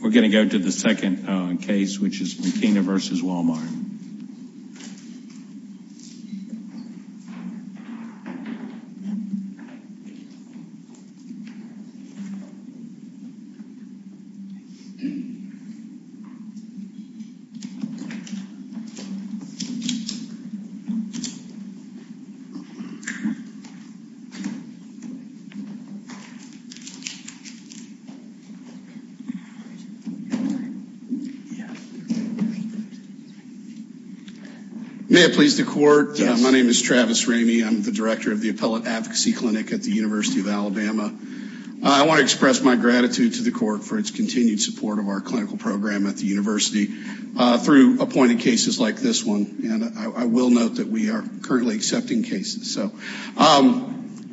We're going to go to the second case, which is Mukhina v. Walmart. May it please the Court. My name is Travis Ramey. I'm the Director of the Appellate Advocacy Clinic at the University of Alabama. I want to express my gratitude to the Court for its continued support of our clinical program at the University through appointing cases like this one. And I will note that we are currently accepting cases. So one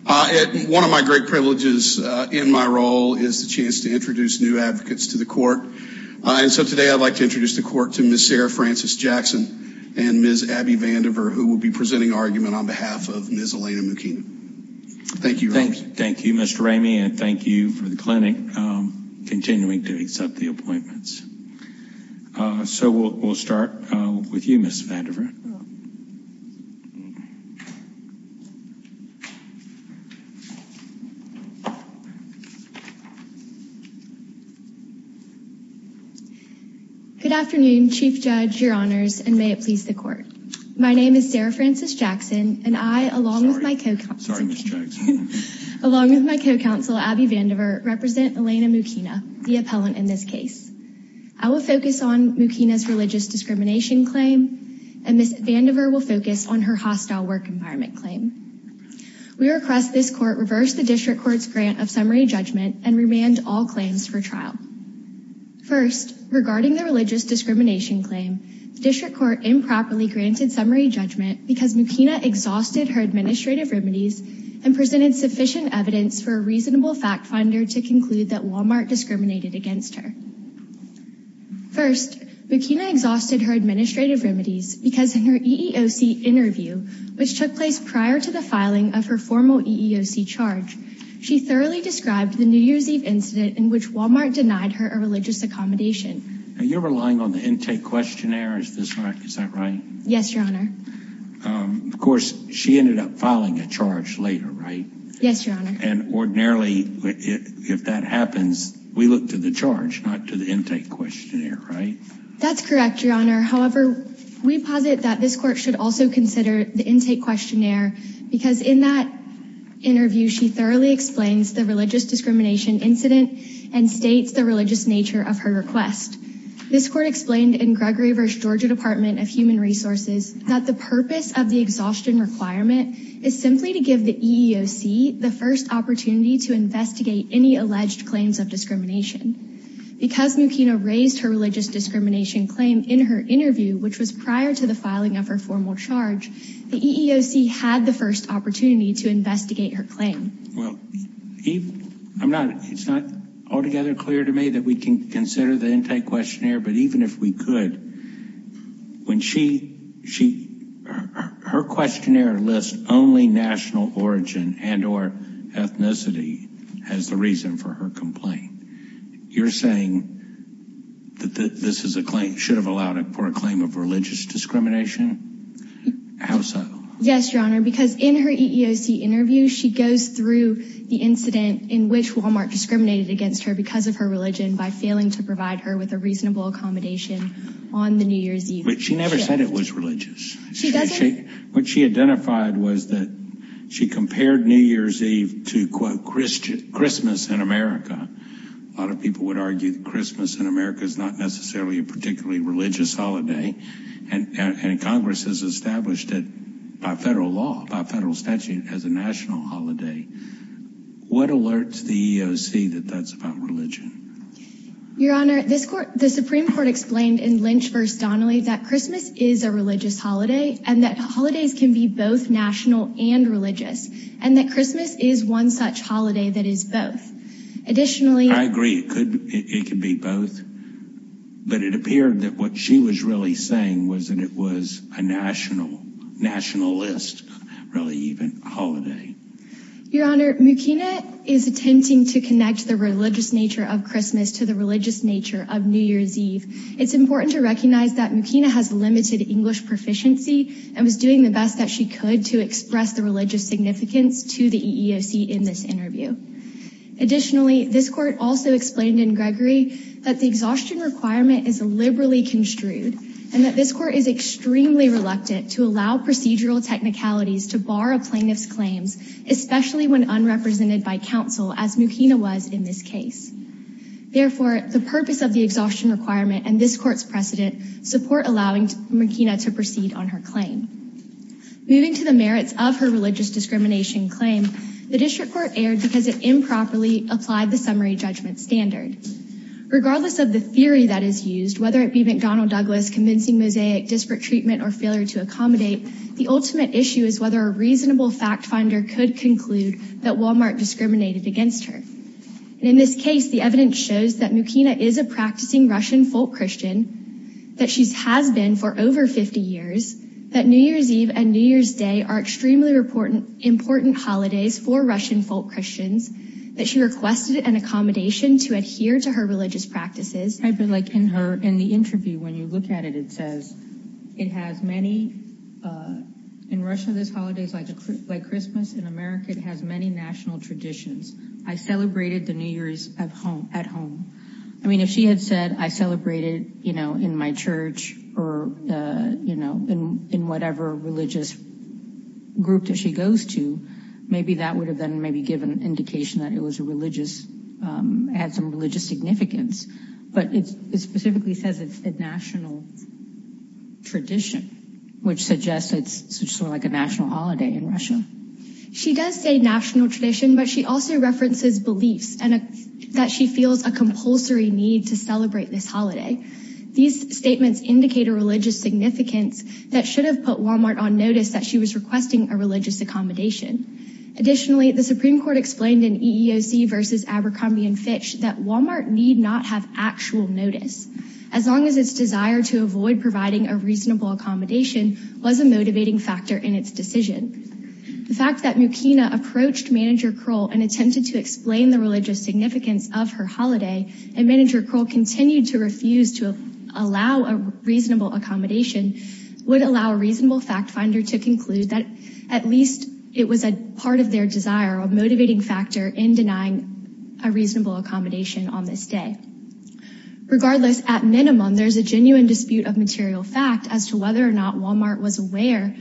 of my great privileges in my role is the chance to introduce new advocates to the Court. And so today I'd like to introduce the Court to Ms. Sarah Frances Jackson and Ms. Abby Vandiver, who will be presenting argument on behalf of Ms. Elena Mukhina. Thank you. Thank you, Mr. Ramey, and thank you for the clinic continuing to accept the appointments. So we'll start with you, Ms. Vandiver. Good afternoon, Chief Judge, Your Honors, and may it please the Court. My name is Sarah Frances Jackson, and I, along with my co-counsel, Abby Vandiver, represent Elena Mukhina, the appellant in this case. I will focus on Mukhina's religious discrimination claim, and Ms. Vandiver will focus on her hostile work environment claim. We request this Court reverse the District Court's grant of summary judgment and remand all claims for trial. First, regarding the religious discrimination claim, the District Court improperly granted summary judgment because Mukhina exhausted her administrative remedies and presented sufficient evidence for a reasonable fact finder to conclude that Walmart discriminated against her. First, Mukhina exhausted her administrative remedies because in her EEOC interview, which took place prior to the filing of her formal EEOC charge, she thoroughly described the New Year's Eve incident in which Walmart denied her a religious accommodation. Are you relying on the intake questionnaire? Is that right? Yes, Your Honor. Of course, she ended up filing a charge later, right? Yes, Your Honor. And ordinarily, if that happens, we look to the charge, not to the intake questionnaire, right? That's correct, Your Honor. However, we posit that this Court should also consider the intake questionnaire because in that interview, she thoroughly explains the religious discrimination incident and states the religious nature of her request. This Court explained in Gregory v. Georgia Department of Human Resources that the purpose of the exhaustion requirement is simply to give the EEOC the first opportunity to investigate any alleged claims of discrimination. Because Mukhina raised her religious discrimination claim in her interview, which was prior to the filing of her formal charge, the EEOC had the first opportunity to investigate her claim. Well, it's not altogether clear to me that we can consider the intake questionnaire, but even if we could, her questionnaire lists only national origin and or ethnicity as the reason for her complaint. You're saying that this should have allowed for a claim of religious discrimination? How so? Yes, Your Honor, because in her EEOC interview, she goes through the incident in which Walmart discriminated against her because of her religion by failing to provide her with a reasonable accommodation on the New Year's Eve. But she never said it was religious. She doesn't? What she identified was that she compared New Year's Eve to, quote, Christmas in America. A lot of people would argue that Christmas in America is not necessarily a particularly religious holiday, and Congress has established it by federal law, by federal statute, as a national holiday. What alerts the EEOC that that's about religion? Your Honor, the Supreme Court explained in Lynch v. Donnelly that Christmas is a religious holiday and that holidays can be both national and religious, and that Christmas is one such holiday that is both. I agree. It could be both. But it appeared that what she was really saying was that it was a national list, really, even a holiday. Your Honor, Mukina is attempting to connect the religious nature of Christmas to the religious nature of New Year's Eve. It's important to recognize that Mukina has limited English proficiency and was doing the best that she could to express the religious significance to the EEOC in this interview. Additionally, this Court also explained in Gregory that the exhaustion requirement is liberally construed and that this Court is extremely reluctant to allow procedural technicalities to bar a plaintiff's claims, especially when unrepresented by counsel, as Mukina was in this case. Therefore, the purpose of the exhaustion requirement and this Court's precedent support allowing Mukina to proceed on her claim. Moving to the merits of her religious discrimination claim, the District Court erred because it improperly applied the summary judgment standard. Regardless of the theory that is used, whether it be McDonnell Douglas convincing Mosaic, disparate treatment, or failure to accommodate, the ultimate issue is whether a reasonable fact finder could conclude that Walmart discriminated against her. In this case, the evidence shows that Mukina is a practicing Russian folk Christian, that she has been for over 50 years, that New Year's Eve and New Year's Day are extremely important holidays for Russian folk Christians, that she requested an accommodation to adhere to her religious practices. I feel like in her, in the interview, when you look at it, it says, it has many, in Russia this holiday is like Christmas, in America it has many national traditions. I celebrated the New Year's at home. I mean, if she had said, I celebrated, you know, in my church or, you know, in whatever religious group that she goes to, maybe that would have been maybe given indication that it was a religious, had some religious significance. But it specifically says it's a national tradition, which suggests it's sort of like a national holiday in Russia. She does say national tradition, but she also references beliefs and that she feels a compulsory need to celebrate this holiday. These statements indicate a religious significance that should have put Walmart on notice that she was requesting a religious accommodation. Additionally, the Supreme Court explained in EEOC versus Abercrombie and Fitch that Walmart need not have actual notice, as long as its desire to avoid providing a reasonable accommodation was a motivating factor in its decision. The fact that Mukina approached Manager Kroll and attempted to explain the religious significance of her holiday, and Manager Kroll continued to refuse to allow a reasonable accommodation, would allow a reasonable fact finder to conclude that at least it was a part of their desire, a motivating factor in denying a reasonable accommodation on this day. Regardless, at minimum, there's a genuine dispute of material fact as to whether or not Walmart was aware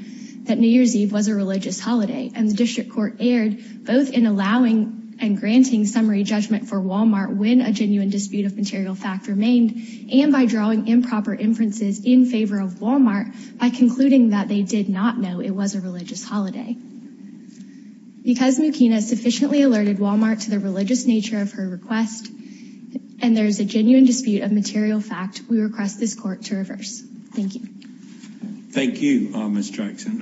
that New Year's Eve was a religious holiday. And the district court erred both in allowing and granting summary judgment for Walmart when a genuine dispute of material fact remained, and by drawing improper inferences in favor of Walmart by concluding that they did not know it was a religious holiday. Because Mukina sufficiently alerted Walmart to the religious nature of her request, and there's a genuine dispute of material fact, we request this court to reverse. Thank you. Thank you, Ms. Jackson.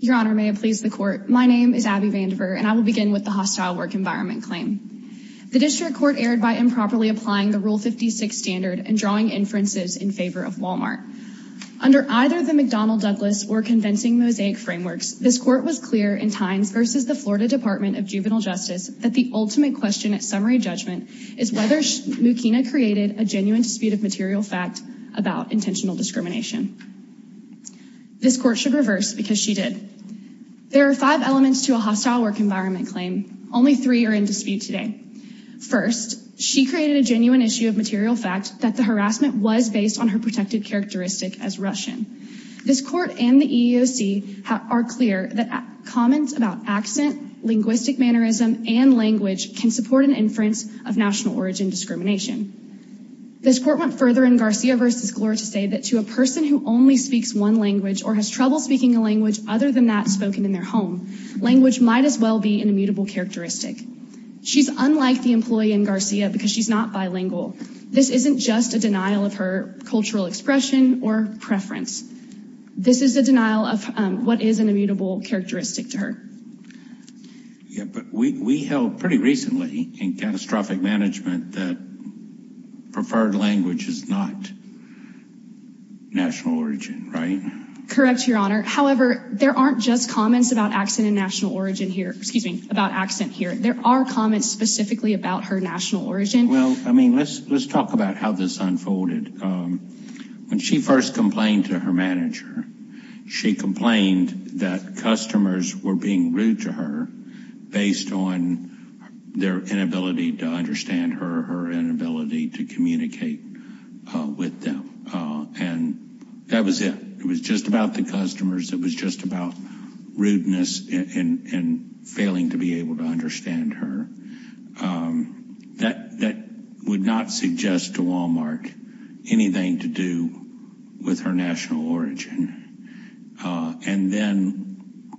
Your Honor, may it please the court. My name is Abby Vandiver, and I will begin with the hostile work environment claim. The district court erred by improperly applying the Rule 56 standard and drawing inferences in favor of Walmart. Under either the McDonnell-Douglas or convincing mosaic frameworks, this court was clear in Tynes v. The Florida Department of Juvenile Justice that the ultimate question at summary judgment is whether Mukina created a genuine dispute of material fact about intentional discrimination. This court should reverse because she did. There are five elements to a hostile work environment claim. Only three are in dispute today. First, she created a genuine issue of material fact that the harassment was based on her protected characteristic as Russian. This court and the EEOC are clear that comments about accent, linguistic mannerism, and language can support an inference of national origin discrimination. This court went further in Garcia v. Gore to say that to a person who only speaks one language or has trouble speaking a language other than that spoken in their home, language might as well be an immutable characteristic. She's unlike the employee in Garcia because she's not bilingual. This isn't just a denial of her cultural expression or preference. This is a denial of what is an immutable characteristic to her. Yeah, but we held pretty recently in catastrophic management that preferred language is not national origin, right? Correct, Your Honor. However, there aren't just comments about accent and national origin here. Excuse me, about accent here. There are comments specifically about her national origin. Well, I mean, let's talk about how this unfolded. When she first complained to her manager, she complained that customers were being rude to her based on their inability to understand her, her inability to communicate with them. And that was it. It was just about the customers. It was just about rudeness and failing to be able to understand her. That would not suggest to Walmart anything to do with her national origin. And then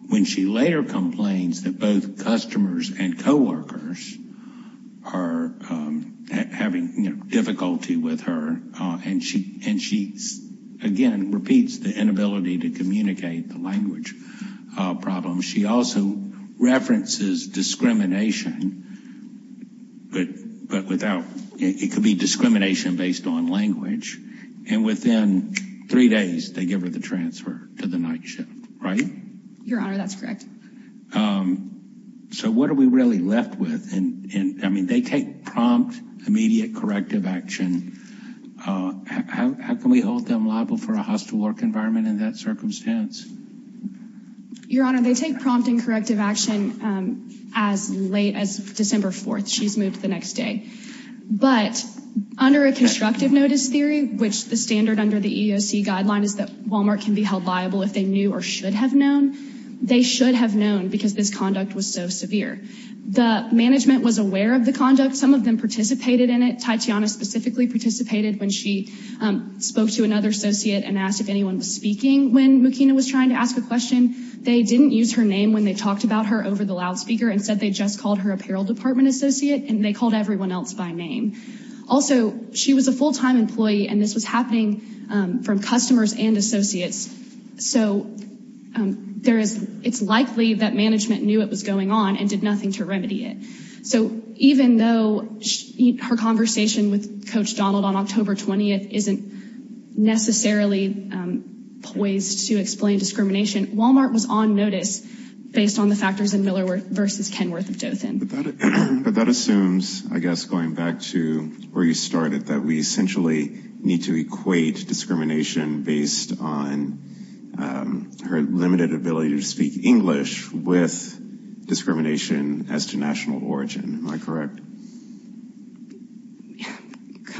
when she later complains that both customers and coworkers are having difficulty with her, and she again repeats the inability to communicate, the language problem, she also references discrimination, but without, it could be discrimination based on language, and within three days they give her the transfer to the night shift, right? Your Honor, that's correct. So what are we really left with? I mean, they take prompt, immediate corrective action. How can we hold them liable for a hostile work environment in that circumstance? Your Honor, they take prompt and corrective action as late as December 4th. She's moved the next day. But under a constructive notice theory, which the standard under the EEOC guideline is that Walmart can be held liable if they knew or should have known, they should have known because this conduct was so severe. The management was aware of the conduct. Some of them participated in it. Titiana specifically participated when she spoke to another associate and asked if anyone was speaking when Mukina was trying to ask a question. They didn't use her name when they talked about her over the loudspeaker. Instead, they just called her apparel department associate, and they called everyone else by name. Also, she was a full-time employee, and this was happening from customers and associates. So it's likely that management knew it was going on and did nothing to remedy it. So even though her conversation with Coach Donald on October 20th isn't necessarily poised to explain discrimination, Walmart was on notice based on the factors in Miller v. Kenworth of Dothan. But that assumes, I guess, going back to where you started, that we essentially need to equate discrimination based on her limited ability to speak English with discrimination as to national origin. Am I correct?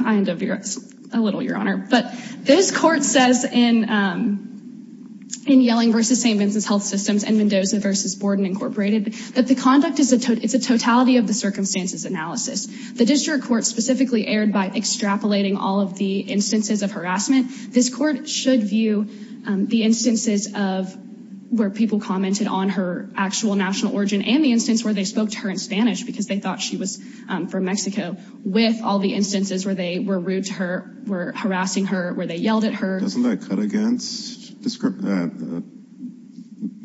Kind of, yes. A little, Your Honor. But this court says in Yelling v. St. Vincent's Health Systems and Mendoza v. Borden Incorporated that the conduct is a totality of the circumstances analysis. The district court specifically erred by extrapolating all of the instances of harassment. This court should view the instances of where people commented on her actual national origin and the instance where they spoke to her in Spanish because they thought she was from Mexico with all the instances where they were rude to her, were harassing her, where they yelled at her. Doesn't that cut against, if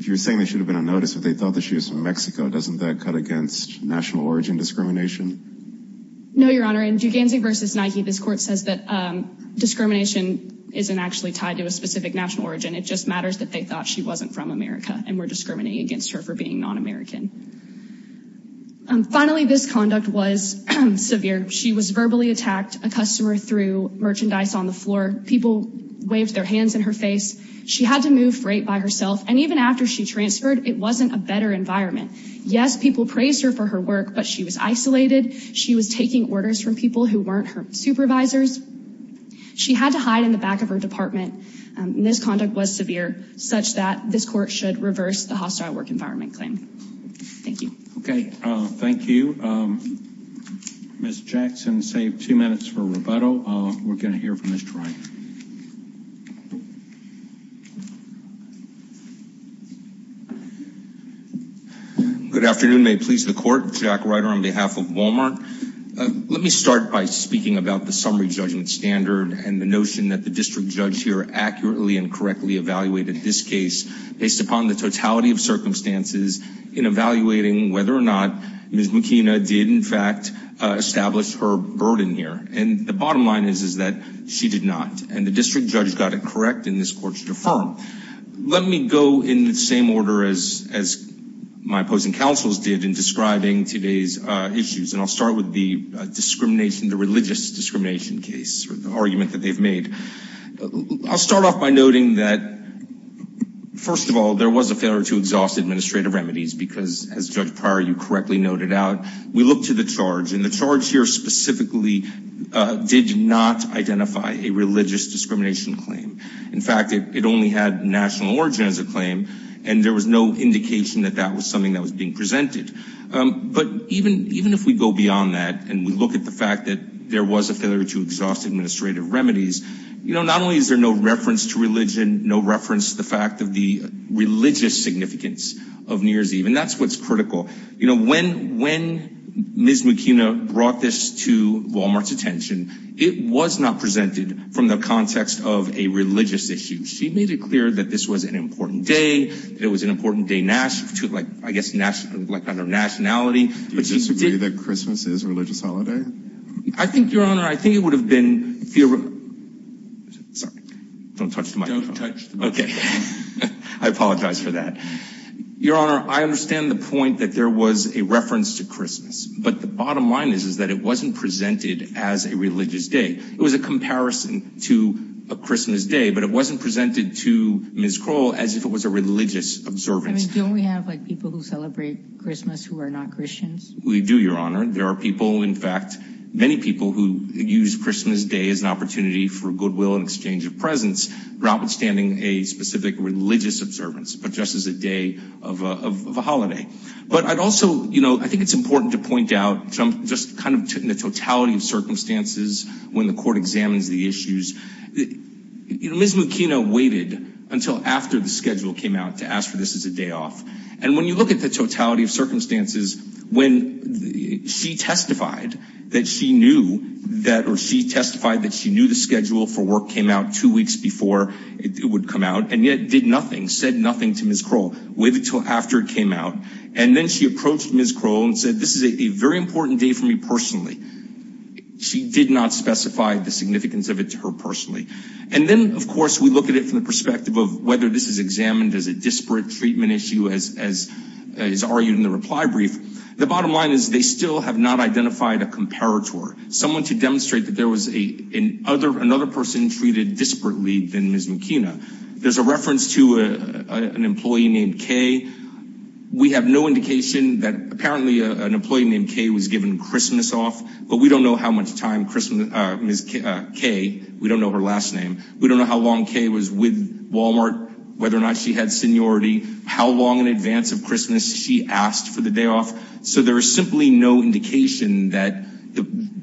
you're saying they should have been on notice if they thought that she was from Mexico, doesn't that cut against national origin discrimination? No, Your Honor. In Guganzi v. Nike, this court says that discrimination isn't actually tied to a specific national origin. It just matters that they thought she wasn't from America and were discriminating against her for being non-American. Finally, this conduct was severe. She was verbally attacked. A customer threw merchandise on the floor. People waved their hands in her face. She had to move freight by herself. And even after she transferred, it wasn't a better environment. Yes, people praised her for her work, but she was isolated. She was taking orders from people who weren't her supervisors. She had to hide in the back of her department. And this conduct was severe such that this court should reverse the hostile work environment claim. Thank you. Okay. Thank you. Ms. Jackson, save two minutes for rebuttal. We're going to hear from Mr. Wright. Good afternoon. May it please the court? Jack Wright on behalf of Walmart. Let me start by speaking about the summary judgment standard and the notion that the district judge here accurately and correctly evaluated this case based upon the totality of circumstances in evaluating whether or not Ms. McKenna did in fact establish her burden here. And the bottom line is that she did not. And the district judge got it correct, and this court should affirm. Let me go in the same order as my opposing counsels did in describing today's issues. And I'll start with the discrimination, the religious discrimination case, the argument that they've made. I'll start off by noting that, first of all, there was a failure to exhaust administrative remedies because, as Judge Pryor, you correctly noted out, we looked to the charge. The charge here specifically did not identify a religious discrimination claim. In fact, it only had national origin as a claim, and there was no indication that that was something that was being presented. But even if we go beyond that and we look at the fact that there was a failure to exhaust administrative remedies, not only is there no reference to religion, no reference to the fact of the religious significance of New Year's Eve, and that's what's critical. You know, when Ms. McKenna brought this to Walmart's attention, it was not presented from the context of a religious issue. She made it clear that this was an important day, it was an important day, I guess, under nationality. Do you disagree that Christmas is a religious holiday? I think, Your Honor, I think it would have been... Sorry. Don't touch the microphone. Don't touch the microphone. Okay. I apologize for that. Your Honor, I understand the point that there was a reference to Christmas, but the bottom line is that it wasn't presented as a religious day. It was a comparison to a Christmas day, but it wasn't presented to Ms. Kroll as if it was a religious observance. I mean, don't we have, like, people who celebrate Christmas who are not Christians? We do, Your Honor. There are people, in fact, many people who use Christmas Day as an opportunity for goodwill and exchange of presents, notwithstanding a specific religious observance, but just as a day of a holiday. But I'd also, you know, I think it's important to point out, just kind of in the totality of circumstances, when the court examines the issues, Ms. McKenna waited until after the schedule came out to ask for this as a day off. And when you look at the totality of circumstances, when she testified that she knew that, or she testified that she knew the schedule for work came out two weeks before it would come out, and yet did nothing, said nothing to Ms. Kroll, waited until after it came out. And then she approached Ms. Kroll and said, this is a very important day for me personally. She did not specify the significance of it to her personally. And then, of course, we look at it from the perspective of whether this is examined as a disparate treatment issue, as is argued in the reply brief. The bottom line is they still have not identified a comparator, someone to demonstrate that there was another person treated disparately than Ms. McKenna. There's a reference to an employee named Kay. We have no indication that apparently an employee named Kay was given Christmas off, but we don't know how much time Ms. Kay, we don't know her last name, we don't know how long Kay was with Walmart, whether or not she had seniority, how long in advance of Christmas she asked for the day off. So there is simply no indication that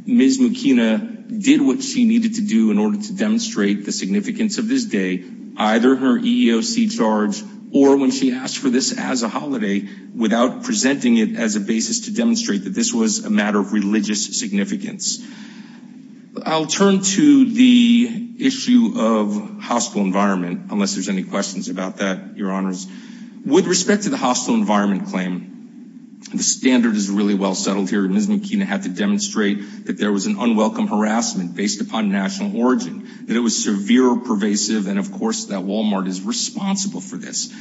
Ms. McKenna did what she needed to do in order to demonstrate the significance of this day, either her EEOC charge or when she asked for this as a holiday, without presenting it as a basis to demonstrate that this was a matter of religious significance. I'll turn to the issue of hostile environment, unless there's any questions about that, Your Honors. With respect to the hostile environment claim, the standard is really well settled here. Ms. McKenna had to demonstrate that there was an unwelcome harassment based upon national origin, that it was severe or pervasive, and, of course, that Walmart is responsible for this.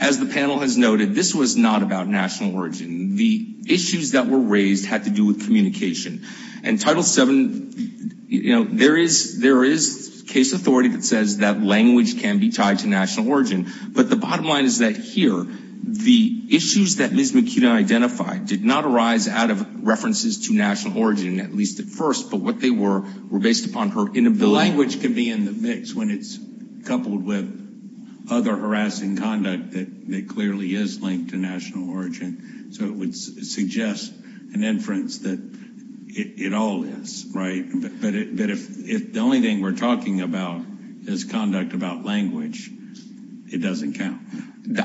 As the panel has noted, this was not about national origin. The issues that were raised had to do with communication. And Title VII, you know, there is case authority that says that language can be tied to national origin, but the bottom line is that here, the issues that Ms. McKenna identified did not arise out of references to national origin, at least at first, but what they were were based upon her inability. The language can be in the mix when it's coupled with other harassing conduct that clearly is linked to national origin. So it would suggest an inference that it all is, right? But if the only thing we're talking about is conduct about language, it doesn't count.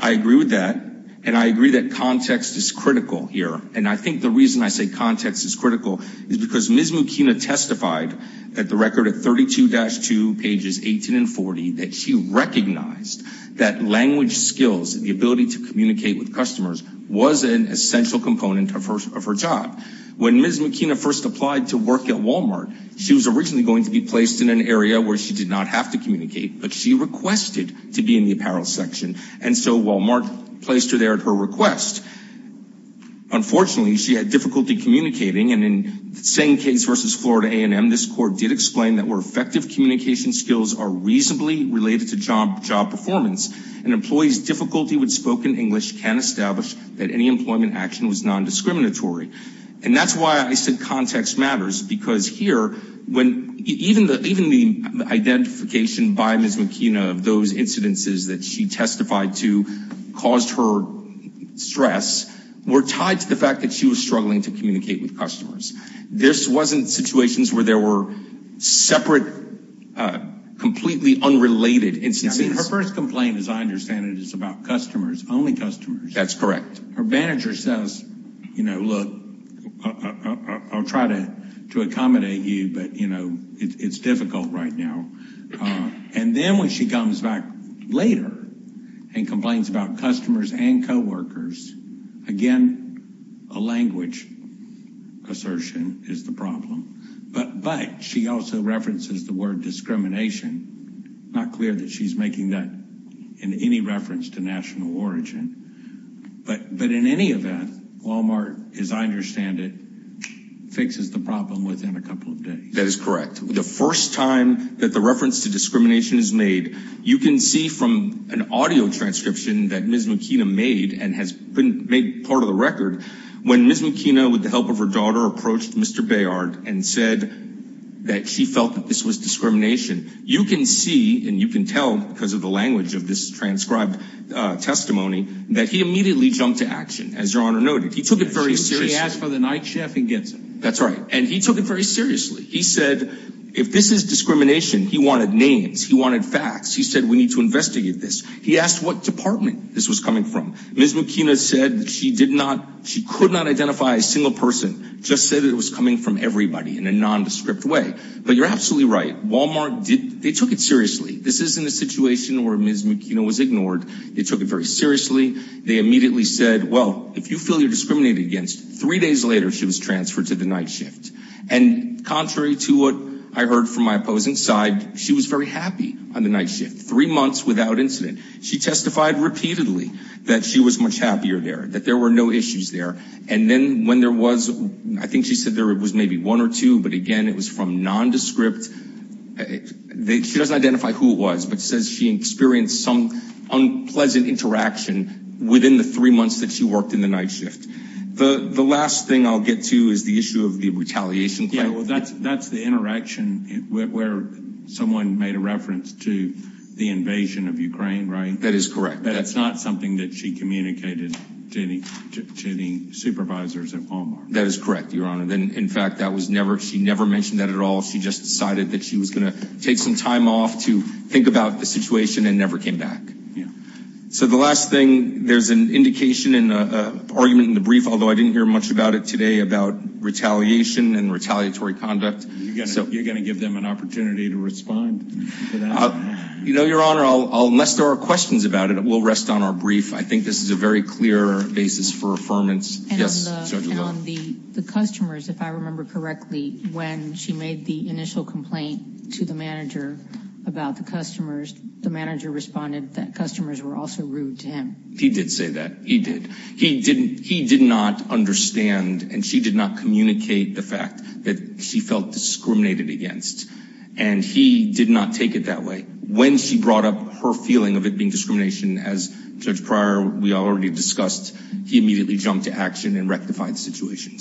I agree with that, and I agree that context is critical here. And I think the reason I say context is critical is because Ms. McKenna testified at the record at 32-2, pages 18 and 40, that she recognized that language skills and the ability to communicate with customers was an essential component of her job. When Ms. McKenna first applied to work at Walmart, she was originally going to be placed in an area where she did not have to communicate, but she requested to be in the apparel section, and so Walmart placed her there at her request. Unfortunately, she had difficulty communicating, and in the same case versus Florida A&M, this court did explain that where effective communication skills are reasonably related to job performance, an employee's difficulty with spoken English can establish that any employment action was nondiscriminatory. And that's why I said context matters, because here, even the identification by Ms. McKenna of those incidences that she testified to caused her stress, were tied to the fact that she was struggling to communicate with customers. This wasn't situations where there were separate, completely unrelated instances. I mean, her first complaint, as I understand it, is about customers, only customers. That's correct. Her manager says, you know, look, I'll try to accommodate you, but, you know, it's difficult right now. And then when she comes back later and complains about customers and coworkers, again, a language assertion is the problem. But she also references the word discrimination. It's not clear that she's making that in any reference to national origin. But in any event, Walmart, as I understand it, fixes the problem within a couple of days. That is correct. The first time that the reference to discrimination is made, you can see from an audio transcription that Ms. McKenna made, and has been made part of the record, when Ms. McKenna, with the help of her daughter, approached Mr. Bayard and said that she felt that this was discrimination. You can see, and you can tell because of the language of this transcribed testimony, that he immediately jumped to action, as Your Honor noted. He took it very seriously. He asked for the night shift and gets it. That's right. And he took it very seriously. He said, if this is discrimination, he wanted names. He wanted facts. He said, we need to investigate this. He asked what department this was coming from. Ms. McKenna said that she could not identify a single person, just said it was coming from everybody in a nondescript way. But you're absolutely right. Walmart, they took it seriously. This isn't a situation where Ms. McKenna was ignored. They took it very seriously. They immediately said, well, if you feel you're discriminated against, three days later she was transferred to the night shift. And contrary to what I heard from my opposing side, she was very happy on the night shift, three months without incident. She testified repeatedly that she was much happier there, that there were no issues there. And then when there was, I think she said there was maybe one or two, but, again, it was from nondescript. She doesn't identify who it was, but says she experienced some unpleasant interaction within the three months that she worked in the night shift. The last thing I'll get to is the issue of the retaliation claim. Yeah, well, that's the interaction where someone made a reference to the invasion of Ukraine, right? That is correct. That's not something that she communicated to the supervisors at Walmart. That is correct, Your Honor. In fact, she never mentioned that at all. She just decided that she was going to take some time off to think about the situation and never came back. Yeah. So the last thing, there's an indication in an argument in the brief, although I didn't hear much about it today, about retaliation and retaliatory conduct. You're going to give them an opportunity to respond to that? You know, Your Honor, unless there are questions about it, we'll rest on our brief. I think this is a very clear basis for affirmance. Yes, Judge Alo. And on the customers, if I remember correctly, when she made the initial complaint to the manager about the customers, the manager responded that customers were also rude to him. He did say that. He did. He did not understand and she did not communicate the fact that she felt discriminated against. And he did not take it that way. When she brought up her feeling of it being discrimination, as Judge Pryor, we already discussed, he immediately jumped to action and rectified the situation.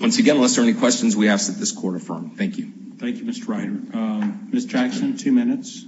Once again, unless there are any questions, we ask that this court affirm. Thank you. Thank you, Mr. Ryder. Ms. Jackson, two minutes.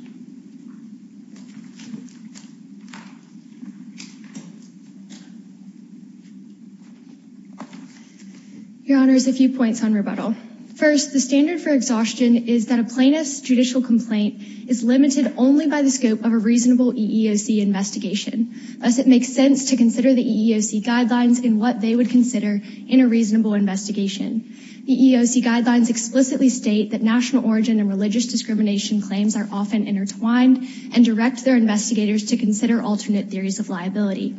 Your Honor, a few points on rebuttal. First, the standard for exhaustion is that a plaintiff's judicial complaint is limited only by the scope of a reasonable EEOC investigation. Thus, it makes sense to consider the EEOC guidelines and what they would consider in a reasonable investigation. The EEOC guidelines explicitly state that national origin and religious discrimination claims are often intertwined and direct their investigators to consider alternate theories of liability.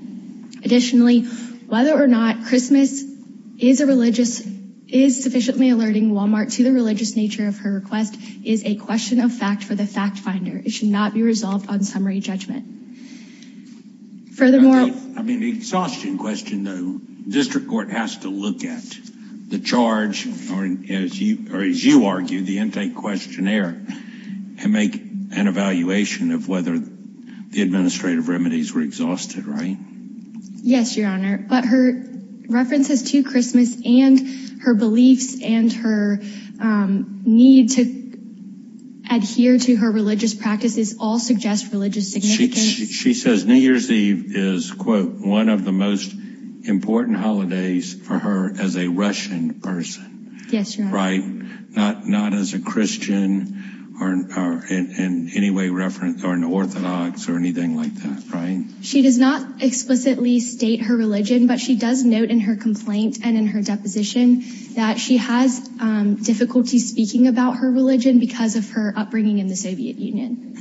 Additionally, whether or not Christmas is sufficiently alerting Wal-Mart to the religious nature of her request is a question of fact for the fact finder. It should not be resolved on summary judgment. Furthermore... I mean, the exhaustion question, though, the district court has to look at the charge, or as you argue, the intake questionnaire, and make an evaluation of whether the administrative remedies were exhausted, right? Yes, Your Honor. But her references to Christmas and her beliefs and her need to adhere to her religious practices all suggest religious significance. She says New Year's Eve is, quote, one of the most important holidays for her as a Russian person. Yes, Your Honor. Right? Not as a Christian or in any way an Orthodox or anything like that, right? She does not explicitly state her religion, but she does note in her complaint and in her deposition that she has difficulty speaking about her religion because of her upbringing in the Soviet Union.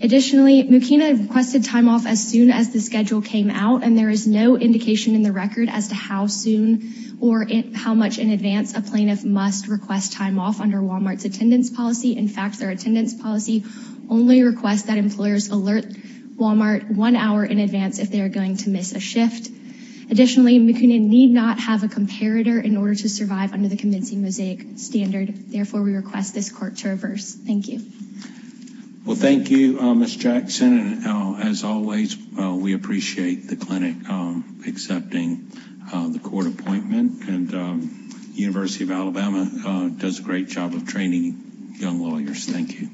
Additionally, Mukina requested time off as soon as the schedule came out, and there is no indication in the record as to how soon or how much in advance a plaintiff must request time off under Wal-Mart's attendance policy. In fact, their attendance policy only requests that employers alert Wal-Mart one hour in advance if they are going to miss a shift. Additionally, Mukina need not have a comparator in order to survive under the Convincing Mosaic standard. Therefore, we request this court to reverse. Thank you. Well, thank you, Ms. Jackson. As always, we appreciate the clinic accepting the court appointment, and the University of Alabama does a great job of training young lawyers. Thank you.